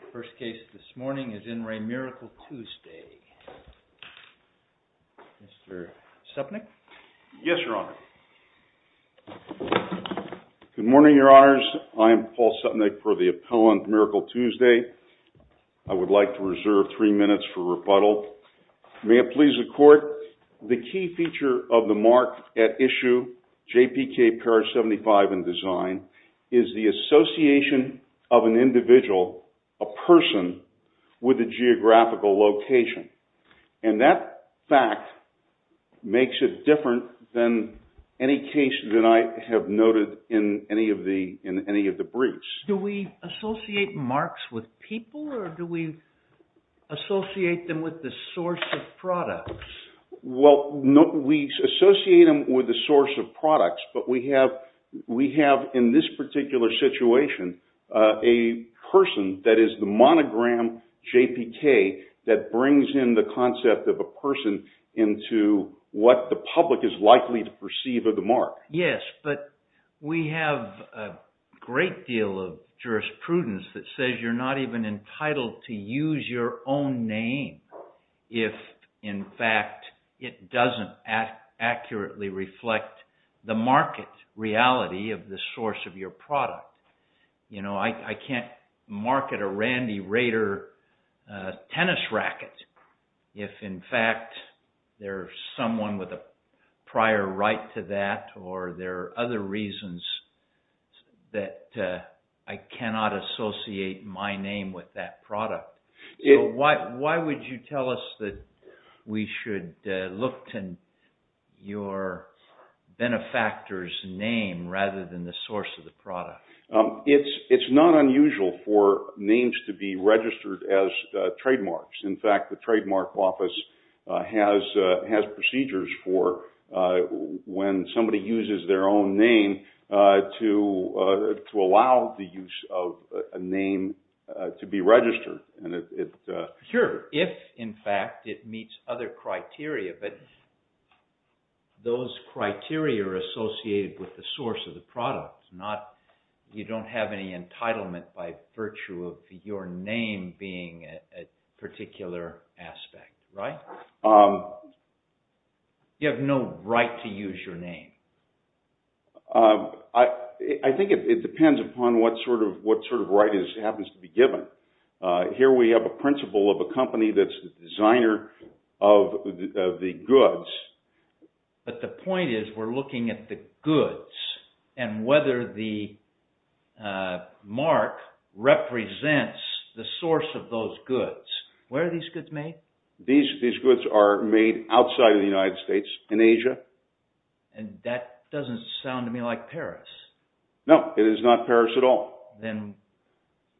THE FIRST CASE THIS MORNING IS IN RE MIRACLE TUESDAY. MR. SUPNICK? YES, YOUR HONOR. GOOD MORNING, YOUR HONORS. I AM PAUL SUPNICK FOR THE APPELLANT MIRACLE TUESDAY. I WOULD LIKE TO RESERVE THREE MINUTES FOR REBUTTAL. MAY IT PLEASE THE COURT, THE KEY FEATURE OF THE MARK AT ISSUE, JPK PARAGED 75 IN DESIGN, IS THE ASSOCIATION OF AN INDIVIDUAL, A PERSON, WITH A GEOGRAPHICAL LOCATION. AND THAT FACT MAKES IT DIFFERENT THAN ANY CASE THAT I HAVE NOTED IN ANY OF THE BRIEFS. DO WE ASSOCIATE MARKS WITH PEOPLE OR DO WE ASSOCIATE THEM WITH THE SOURCE OF PRODUCTS? WELL, NO, WE ASSOCIATE THEM WITH THE SOURCE OF PRODUCTS, BUT WE HAVE, IN THIS PARTICULAR SITUATION, A PERSON THAT IS THE MONOGRAM JPK THAT BRINGS IN THE CONCEPT OF A PERSON INTO WHAT THE PUBLIC IS LIKELY TO PERCEIVE OF THE MARK. YES, BUT WE HAVE A GREAT DEAL OF JURISPRUDENCE THAT SAYS YOU'RE NOT EVEN ENTITLED TO USE YOUR OWN NAME IF, IN FACT, IT DOESN'T ACCURATELY REFLECT THE MARKET REALITY OF THE SOURCE OF YOUR PRODUCT. I CAN'T MARKET A RANDY RADER TENNIS RACKET IF, IN FACT, THERE'S SOMEONE WITH A PRIOR RIGHT TO THAT OR THERE ARE OTHER REASONS THAT I CANNOT ASSOCIATE MY NAME WITH THAT PRODUCT. WHY WOULD YOU TELL US THAT WE SHOULD LOOK TO YOUR BENEFACTOR'S NAME RATHER THAN THE SOURCE OF THE PRODUCT? IT'S NOT UNUSUAL FOR NAMES TO BE REGISTERED AS TRADEMARKS. IN FACT, THE TRADEMARK OFFICE HAS PROCEDURES FOR WHEN SOMEBODY USES THEIR OWN NAME TO ALLOW THE USE OF A NAME TO BE REGISTERED. SURE, IF, IN FACT, IT MEETS OTHER CRITERIA, BUT THOSE CRITERIA ARE ASSOCIATED WITH THE SOURCE OF THE PRODUCT. YOU DON'T HAVE ANY ENTITLEMENT BY VIRTUE OF YOUR NAME BEING A PARTICULAR ASPECT, RIGHT? YOU HAVE NO RIGHT TO USE YOUR NAME. I THINK IT DEPENDS UPON WHAT SORT OF RIGHT HAPPENS TO BE GIVEN. HERE WE HAVE A PRINCIPLE OF A COMPANY THAT'S A DESIGNER OF THE GOODS. BUT THE POINT IS, WE'RE LOOKING AT THE GOODS AND WHETHER THE MARK REPRESENTS THE SOURCE OF THOSE GOODS. WHERE ARE THESE GOODS MADE? THESE GOODS ARE MADE OUTSIDE OF THE UNITED STATES, IN ASIA. AND THAT DOESN'T SOUND TO ME LIKE PARIS. NO, IT IS NOT PARIS AT ALL. THEN,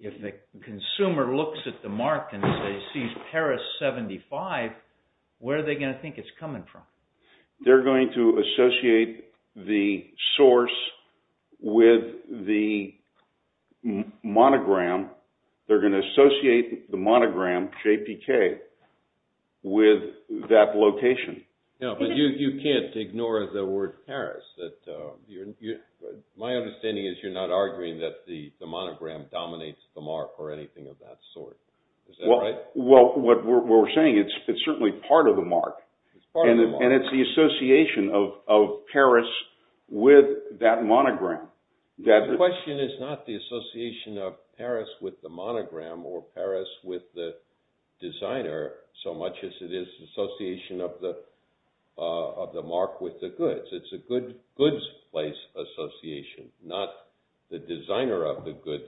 IF THE CONSUMER LOOKS AT THE MARK AND SAYS, HE'S PARIS 75, WHERE ARE THEY GOING TO THINK IT'S COMING FROM? THEY'RE GOING TO ASSOCIATE THE SOURCE WITH THE MONOGRAM. THEY'RE GOING TO ASSOCIATE THE MONOGRAM, JPK, WITH THAT LOCATION. But you can't ignore the word Paris. My understanding is you're not arguing that the monogram dominates the mark or anything of that sort. Well, what we're saying, it's certainly part of the mark. And it's the association of Paris with that monogram. The question is not the association of Paris with the monogram or Paris with the designer, so much as it is the association of the mark with the goods. It's a goods place association, not the designer of the goods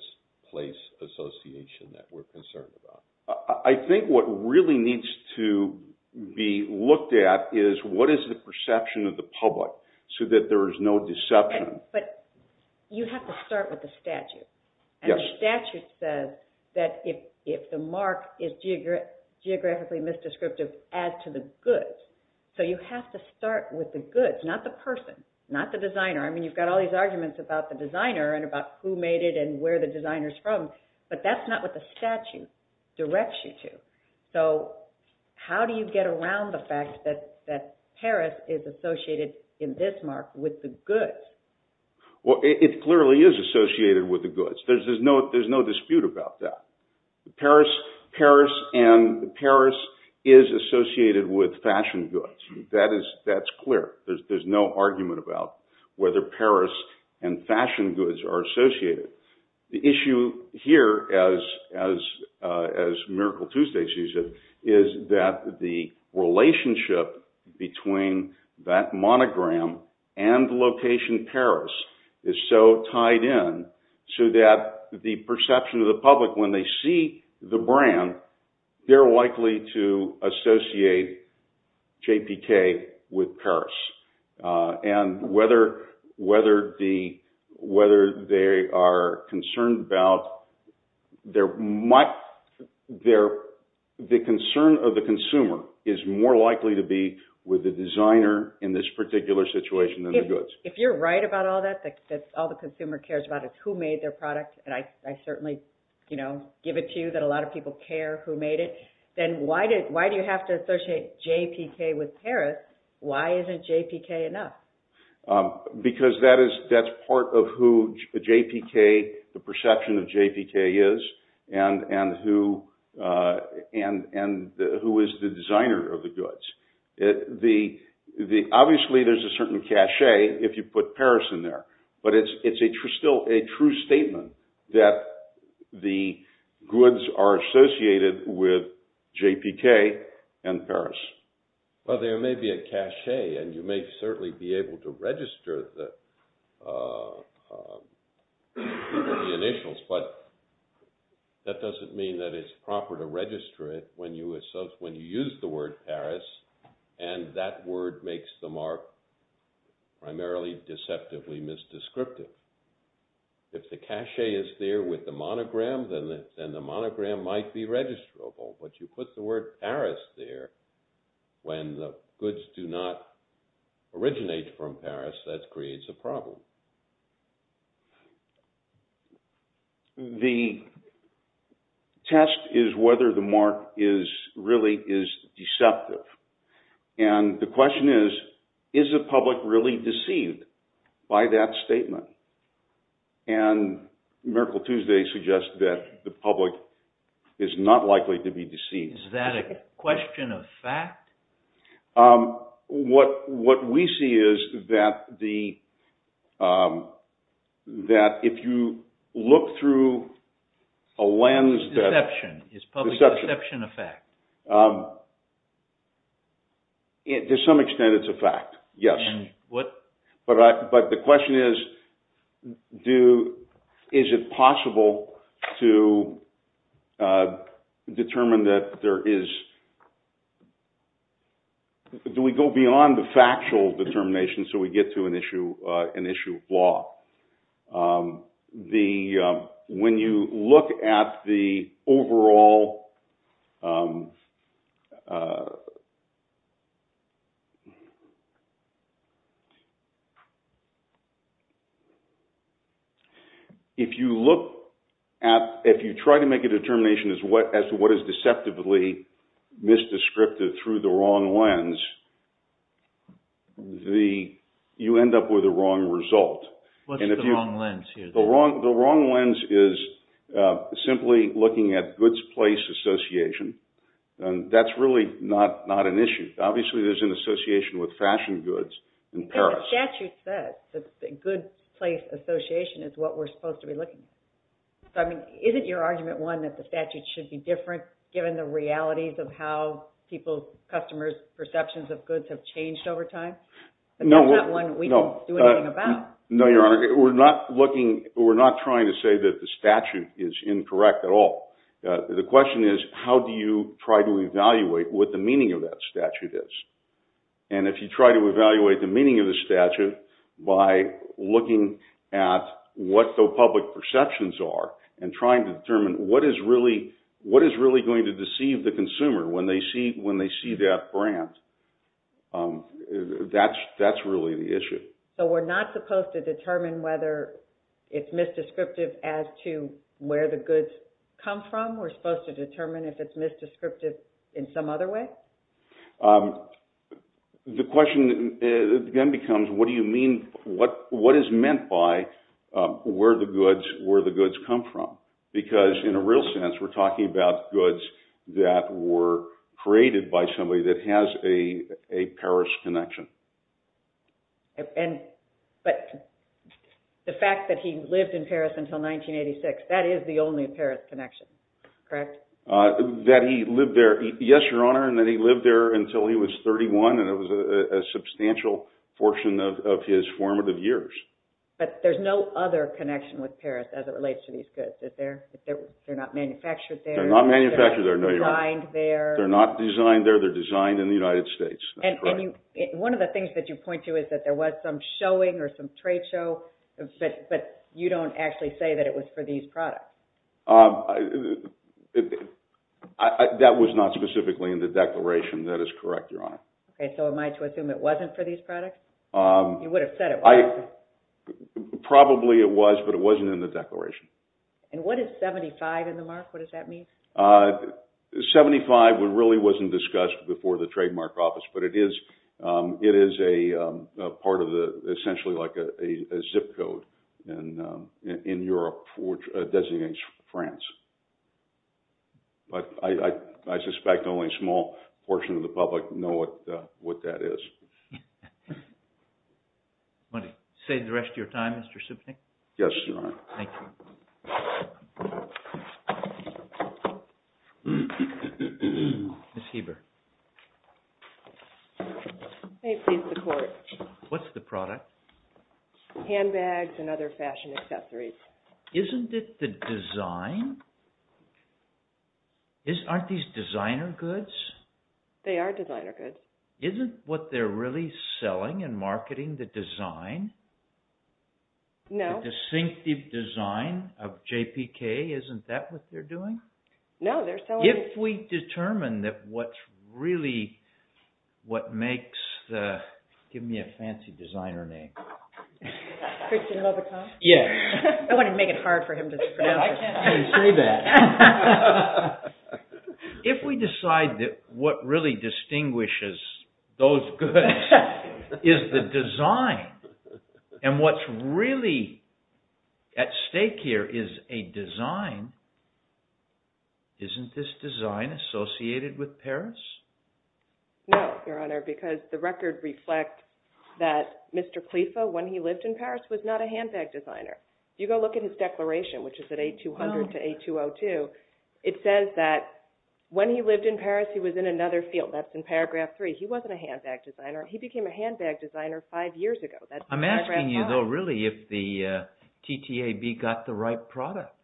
place association that we're concerned about. I think what really needs to be looked at is what is the perception of the public so that there is no deception. But you have to start with the statute. And the statute says that if the mark is geographically misdescriptive as to the goods, so you have to start with the goods, not the person, not the designer. I mean, you've got all these arguments about the designer and about who made it and where the designer's from, but that's not what the statute directs you to. So how do you get around the fact that Paris is associated in this mark with the goods? Well, it clearly is associated with the goods. There's no dispute about that. Paris and Paris is associated with fashion goods. That's clear. There's no argument about whether Paris and fashion goods are associated. The issue here, as Miracle Tuesday sees it, is that the relationship between that monogram and the location Paris is so tied in so that the perception of the public when they see the brand, they're likely to associate JPK with Paris. And whether they are concerned about the concern of the consumer is more likely to be with the designer in this particular situation than the goods. If you're right about all that, that all the consumer cares about is who made their product, and I certainly give it to you that a lot of people care who made it, then why do you have to associate JPK with Paris? Why isn't JPK enough? Because that's part of who JPK, the perception of JPK is, and who is the designer of the goods. Obviously there's a certain cachet if you put Paris in there, but it's still a true statement that the goods are associated with JPK and Paris. Well, there may be a cachet, and you may certainly be able to register the initials, but that doesn't mean that it's proper to register it when you use the word Paris and that word makes the mark primarily deceptively misdescripted. If the cachet is there with the monogram, then the monogram might be registrable, but you put the word Paris there when the goods do not originate from Paris, that creates a problem. The test is whether the mark really is deceptive. And the question is, is the public really deceived by that statement? And Miracle Tuesday suggests that the public is not likely to be deceived. Is that a question of fact? What we see is that if you look through a lens that... To some extent it's a fact, yes. But the question is, is it possible to determine that there is... Do we go beyond the factual determination so we get to an issue of law? When you look at the overall... If you try to make a determination as to what is deceptively misdescripted through the wrong lens, you end up with the wrong result. What's the wrong lens here? The wrong lens is simply looking at goods place association. That's really not an issue. Obviously there's an association with fashion goods in Paris. The statute says that good place association is what we're supposed to be looking at. Isn't your argument one that the statute should be different given the realities of how people's, customers' perceptions of goods have changed over time? That's not one we can do anything about. No, Your Honor. We're not trying to say that the statute is incorrect at all. The question is, how do you try to evaluate what the meaning of that statute is? And if you try to evaluate the meaning of the statute by looking at what the public perceptions are and trying to determine what is really going to deceive the consumer when they see that brand, that's really the issue. So we're not supposed to determine whether it's misdescriptive as to where the goods come from? We're supposed to determine if it's misdescriptive in some other way? The question again becomes, what do you mean, what is meant by where the goods come from? Because in a real sense we're talking about goods that were created by somebody that has a Paris connection. But the fact that he lived in Paris until 1986, that is the only Paris connection, correct? That he lived there, yes, Your Honor, and that he lived there until he was 31 and it was a substantial portion of his formative years. But there's no other connection with Paris as it relates to these goods, is there? They're not manufactured there? They're not manufactured there, no, Your Honor. They're designed there? They're not designed there, they're designed in the United States. One of the things that you point to is that there was some showing or some trade show, but you don't actually say that it was for these products. That was not specifically in the declaration, that is correct, Your Honor. So am I to assume it wasn't for these products? You would have said it was. Probably it was, but it wasn't in the declaration. And what is 75 in the mark? What does that mean? 75 really wasn't discussed before the trademark office, but it is a part of the, essentially like a zip code in Europe which designates France. But I suspect only a small portion of the public know what that is. Want to save the rest of your time, Mr. Sipnyk? Yes, Your Honor. Thank you. Ms. Heber. May it please the Court. What's the product? Handbags and other fashion accessories. Isn't it the design? Aren't these designer goods? They are designer goods. Isn't what they're really selling and marketing the design? No. The distinctive design of JPT. JPK, isn't that what they're doing? No, they're selling... If we determine that what's really what makes the... Give me a fancy designer name. Christian Lovato? Yes. I wanted to make it hard for him to pronounce it. I can't say that. If we decide that what really distinguishes those goods is the design and what's really at stake here is a design, isn't this design associated with Paris? No, Your Honor, because the record reflects that Mr. Clefa, when he lived in Paris, was not a handbag designer. If you go look at his declaration, which is at A200 to A202, it says that when he lived in Paris, he was in another field. That's in paragraph three. He wasn't a handbag designer. He became a handbag designer five years ago. I'm asking you, though, really, if the TTAB got the right product.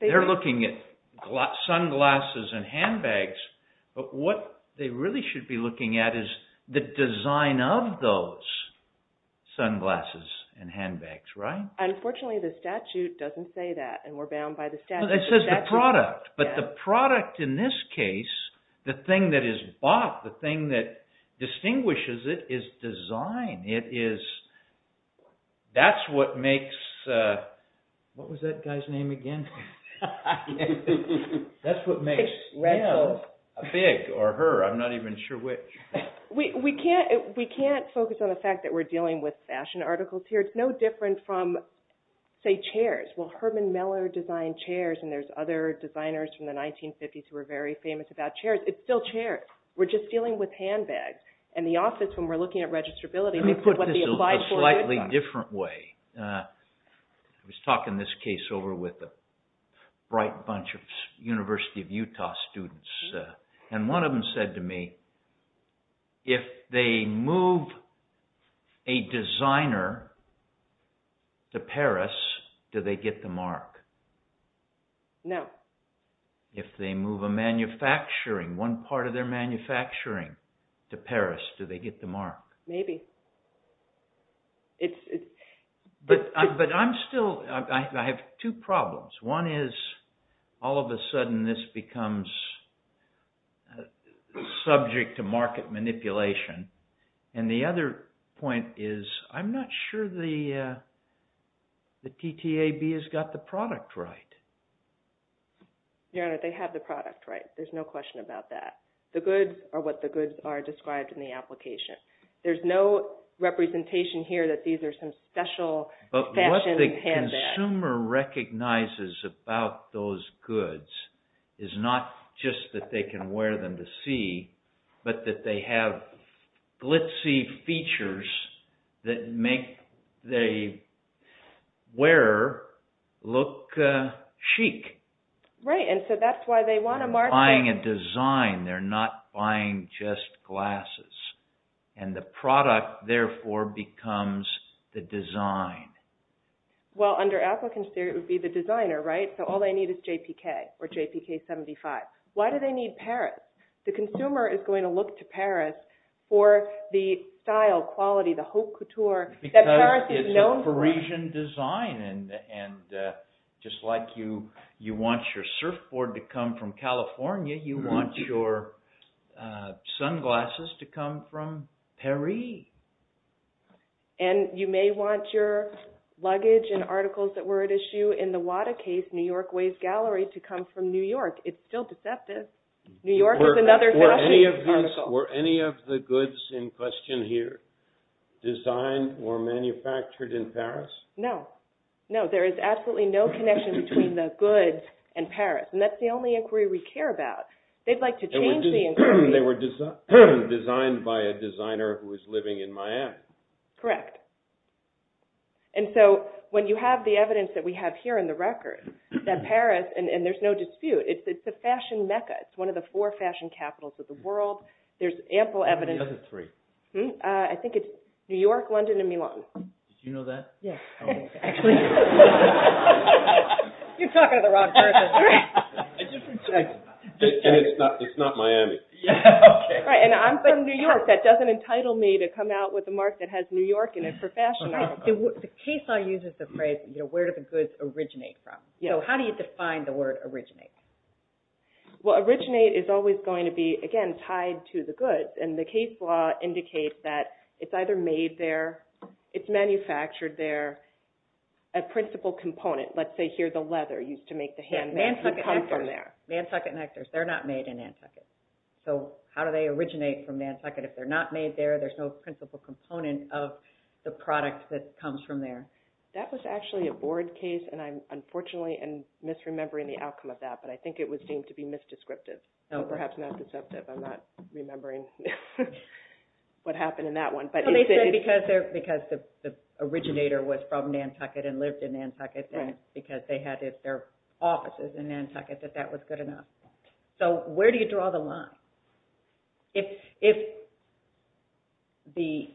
They're looking at sunglasses and handbags, but what they really should be looking at is the design of those sunglasses and handbags, right? Unfortunately, the statute doesn't say that, and we're bound by the statute. It says the product, but the product in this case, the thing that is bought, the thing that distinguishes it is design. It is, that's what makes, what was that guy's name again? That's what makes a big, or her, I'm not even sure which. We can't focus on the fact that we're dealing with fashion articles here. It's no different from, say, chairs. Well, Herman Miller designed chairs, and there's other designers from the 1950s who were very famous about chairs. It's still chairs. We're just dealing with handbags, and the office, when we're looking at registrability, and what they apply for. Let me put this a slightly different way. I was talking this case over with a bright bunch of University of Utah students, and one of them said to me, if they move a designer to Paris, do they get the mark? No. If they move a manufacturing, one part of their manufacturing to Paris, do they get the mark? Maybe. But I'm still, I have two problems. One is, all of a sudden, this becomes subject to market manipulation, and the other point is, I'm not sure the TTAB has got the product right. Your Honor, they have the product right. There's no question about that. The goods are what the goods are described in the application. There's no representation here that these are some special fashion handbags. But what the consumer recognizes about those goods is not just that they can wear them to see, but that they have glitzy features that make the wearer look chic. Right, and so that's why they want to market. They're buying a design. They're not buying just glasses. And the product, therefore, becomes the design. Well, under applicant's theory, it would be the designer, right? So all they need is JPK or JPK 75. Why do they need Paris? The consumer is going to look to Paris for the style, quality, the haute couture that Paris is known for. Because it's a Parisian design, and just like you want your surfboard to come from California, you want your sunglasses to come from Paris. And you may want your luggage and articles that were at issue in the WADA case, New York Ways Gallery, to come from New York. It's still deceptive. New York is another fashion article. Were any of the goods in question here designed or manufactured in Paris? No. No, there is absolutely no connection between the goods and Paris. And that's the only inquiry we care about. They'd like to change the inquiry. They were designed by a designer who was living in Miami. Correct. And so when you have the evidence that we have here in the record, that Paris, and there's no dispute, it's a fashion mecca. It's one of the four fashion capitals of the world. There's ample evidence. What are the other three? I think it's New York, London, and Milan. Did you know that? Yes. Actually. You're talking to the wrong person. And it's not Miami. Right, and I'm from New York. That doesn't entitle me to come out with a mark that has New York in it for fashion articles. The case law uses the phrase, where do the goods originate from? So how do you define the word originate? Well, originate is always going to be, again, tied to the goods. And the case law indicates that it's either made there, it's manufactured there, or there's a principal component. Let's say here the leather used to make the handbags would come from there. Nantucket nectars. They're not made in Nantucket. So how do they originate from Nantucket? If they're not made there, there's no principal component of the product that comes from there. That was actually a board case, and I'm unfortunately misremembering the outcome of that, but I think it was deemed to be misdescriptive. So perhaps not deceptive. I'm not remembering what happened in that one. So they said because the originator was from Nantucket and lived in Nantucket and because they had their offices in Nantucket that that was good enough. So where do you draw the line? If the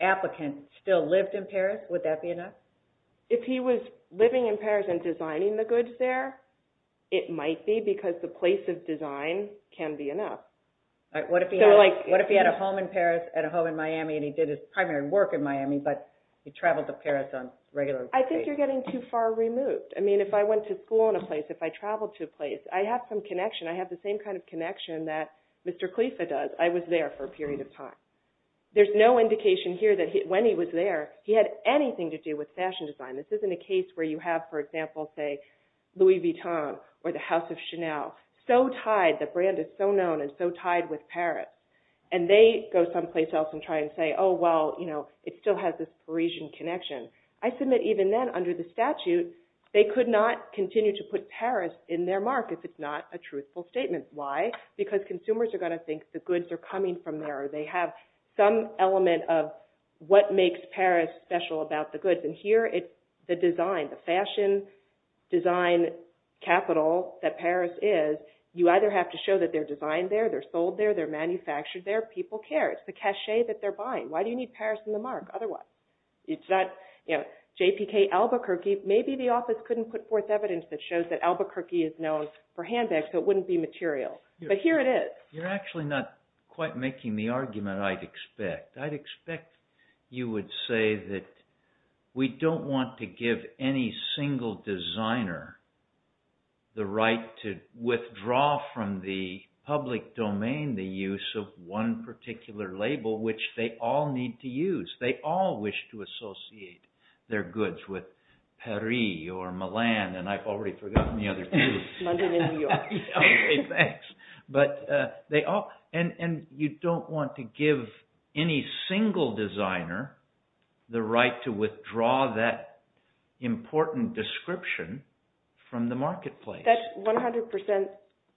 applicant still lived in Paris, would that be enough? If he was living in Paris and designing the goods there, it might be, because the place of design can be enough. What if he had a home in Paris and a home in Miami and he did his primary work in Miami, but he traveled to Paris on regular basis? I think you're getting too far removed. I mean, if I went to school in a place, if I traveled to a place, I have some connection. I have the same kind of connection that Mr. Clefa does. I was there for a period of time. There's no indication here that when he was there, he had anything to do with fashion design. This isn't a case where you have, for example, say, Louis Vuitton or the House of Chanel so tied, the brand is so known and so tied with Paris, and they go someplace else and try and say, oh, well, you know, it still has this Parisian connection. I submit even then, under the statute, they could not continue to put Paris in their market if it's not a truthful statement. Why? Because consumers are going to think the goods are coming from there or they have some element of what makes Paris special about the goods, and here it's the design, the fashion design capital that Paris is. You either have to show that they're designed there, they're sold there, they're manufactured there. People care. It's the cachet that they're buying. Why do you need Paris in the mark otherwise? It's not, you know, J.P.K. Albuquerque, maybe the office couldn't put forth evidence that shows that Albuquerque is known for handbags so it wouldn't be material, but here it is. You're actually not quite making the argument I'd expect. I'd expect you would say that we don't want to give any single designer the right to withdraw from the public domain, the use of one particular label which they all need to use. They all wish to associate their goods with Paris or Milan, and I've already forgotten the other two. London and New York. Okay, thanks. But they all, and you don't want to give any single designer the right to withdraw that important description from the marketplace. That's 100%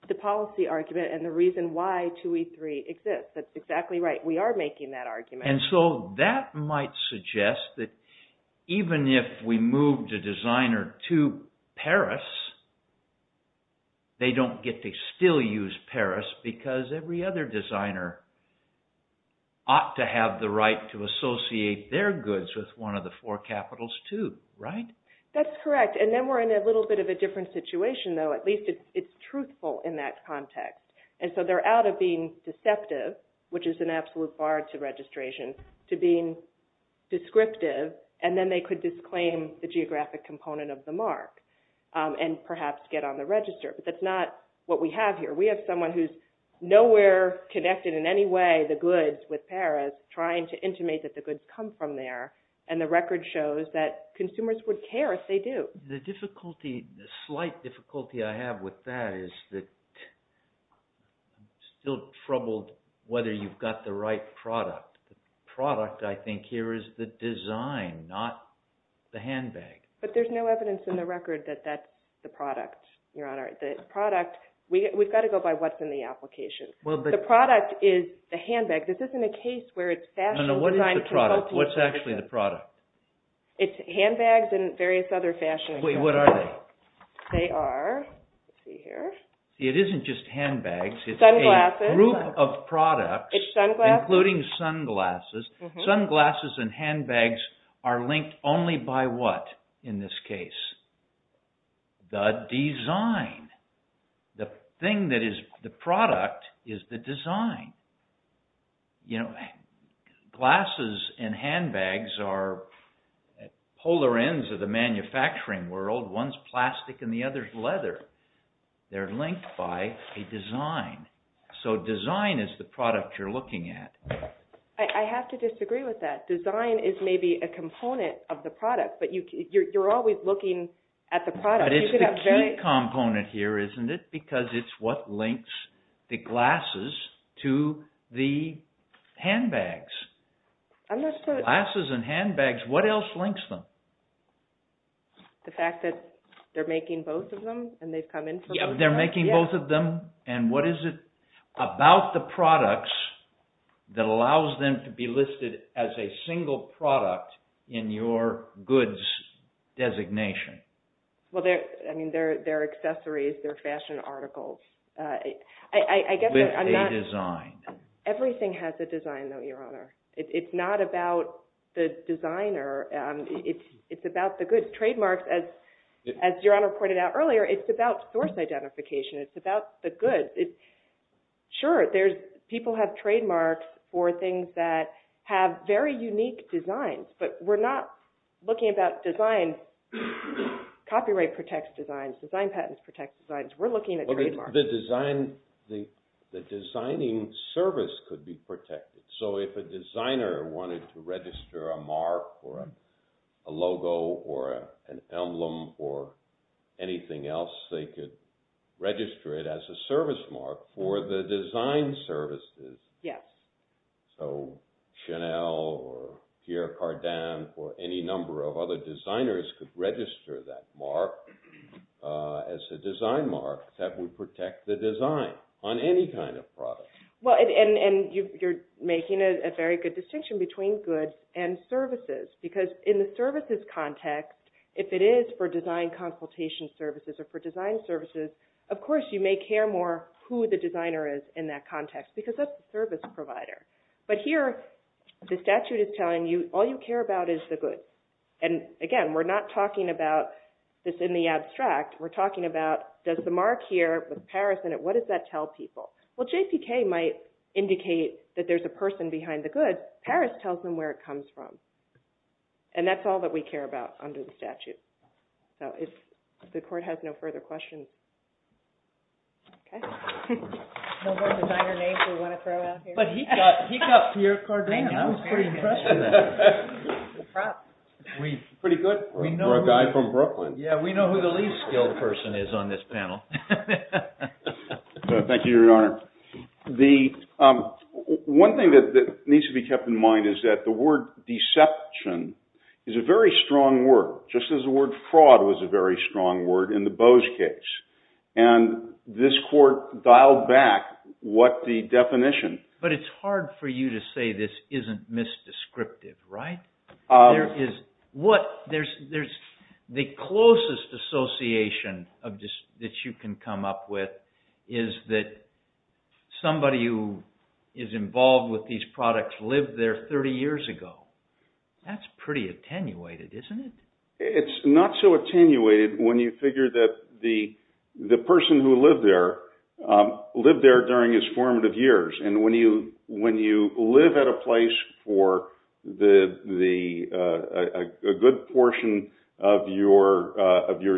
the policy argument and the reason why 2E3 exists. That's exactly right. We are making that argument. And so that might suggest that even if we moved a designer to Paris, they don't get to still use Paris because every other designer ought to have the right to associate their goods with one of the four capitals, too. Right? That's correct. And then we're in a little bit of a different situation, though. At least it's truthful in that context. And so they're out of being deceptive, which is an absolute bar to registration, to being descriptive, and then they could disclaim the geographic component of the mark and perhaps get on the register. But that's not what we have here. We have someone who's nowhere connected in any way the goods with Paris, trying to intimate that the goods come from there, and the record shows that consumers would care if they do. The difficulty, the slight difficulty I have with that is that I'm still troubled whether you've got the right product. The product, I think, here is the design, not the handbag. But there's no evidence in the record that that's the product, Your Honor. The product... We've got to go by what's in the application. Well, but... The product is the handbag. This isn't a case where it's fashion design... No, no, what is the product? What's actually the product? It's handbags and various other fashion... Wait, what are they? They are... Let's see here. It isn't just handbags. Sunglasses. It's a group of products... It's sunglasses. ...including sunglasses. Sunglasses and handbags are linked only by what in this case? The design. The thing that is the product is the design. You know, glasses and handbags are polar ends of the manufacturing world. One's plastic and the other's leather. They're linked by a design. So design is the product you're looking at. I have to disagree with that. Design is maybe a component of the product, but you're always looking at the product. But it's the key component here, isn't it? Because it's what links the glasses to the handbags. I'm not sure... Glasses and handbags, what else links them? The fact that they're making both of them and they've come in for both of them? Yeah, they're making both of them. And what is it about the products that allows them to be listed as a single product in your goods designation? Well, I mean, they're accessories. They're fashion articles. I guess I'm not... With a design. Everything has a design, though, Your Honor. It's not about the designer. It's about the goods. Trademarks, as Your Honor pointed out earlier, it's about source identification. It's about the goods. Sure, people have trademarks for things that have very unique designs, but we're not looking about design. Copyright protects designs. Design patents protect designs. We're looking at trademarks. The designing service could be protected. So if a designer wanted to register a mark or a logo or an emblem or anything else, they could register it as a service mark for the design services. Yes. So Chanel or Pierre Cardin or any number of other designers could register that mark as a design mark that would protect the design on any kind of product. And you're making a very good distinction between goods and services because in the services context, if it is for design consultation services or for design services, of course you may care more who the designer is in that context because that's the service provider. But here, the statute is telling you all you care about is the goods. And again, we're not talking about this in the abstract. We're talking about does the mark here with Paris in it, what does that tell people? Well, JPK might indicate that there's a person behind the goods. But Paris tells them where it comes from. And that's all that we care about under the statute. So if the court has no further questions... Okay. No more designer names we want to throw out here. But he got Pierre Cardin. I was pretty impressed with that. We're pretty good. We're a guy from Brooklyn. Yeah, we know who the least skilled person is on this panel. Thank you, Your Honor. One thing that needs to be kept in mind is that the word deception is a very strong word, just as the word fraud was a very strong word in the Bose case. And this court dialed back what the definition... But it's hard for you to say this isn't misdescriptive, right? There's the closest association that you can come up with is that somebody who is involved with these products lived there 30 years ago. That's pretty attenuated, isn't it? It's not so attenuated when you figure that the person who lived there lived there during his formative years. And when you live at a place for a good portion of your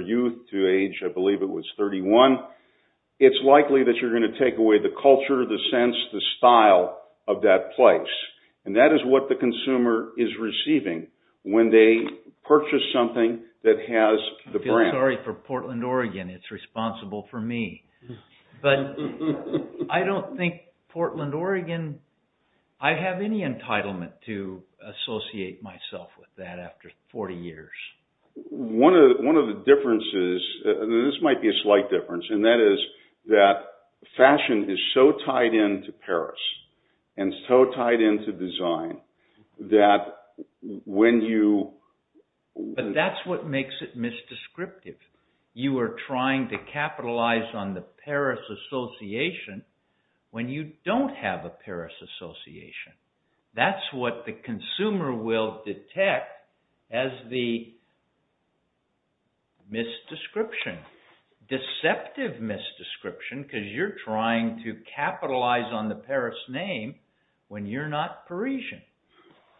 youth to age, I believe it was 31, it's likely that you're going to take away the culture, the sense, the style of that place. And that is what the consumer is receiving when they purchase something that has the brand. I feel sorry for Portland, Oregon. It's responsible for me. But I don't think Portland, Oregon... I have any entitlement to associate myself with that after 40 years. One of the differences, and this might be a slight difference, and that is that fashion is so tied in to Paris, and so tied in to design, that when you... But that's what makes it misdescriptive. You are trying to capitalize on the Paris association when you don't have a Paris association. That's what the consumer will detect as the misdescription. Deceptive misdescription because you're trying to capitalize on the Paris name when you're not Parisian.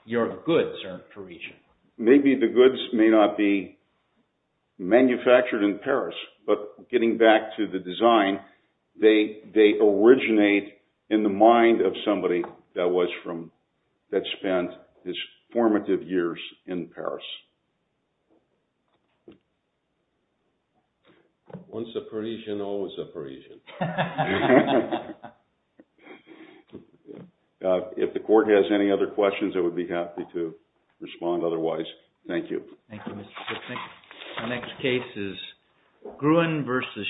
Your goods are Parisian. Maybe the goods may not be manufactured in Paris, but getting back to the design, they originate in the mind of somebody that spent his formative years in Paris. Once a Parisian, always a Parisian. If the court has any other questions, I would be happy to respond otherwise. Thank you. Thank you, Mr. Siffnick. The next case is Gruen versus Shinseki.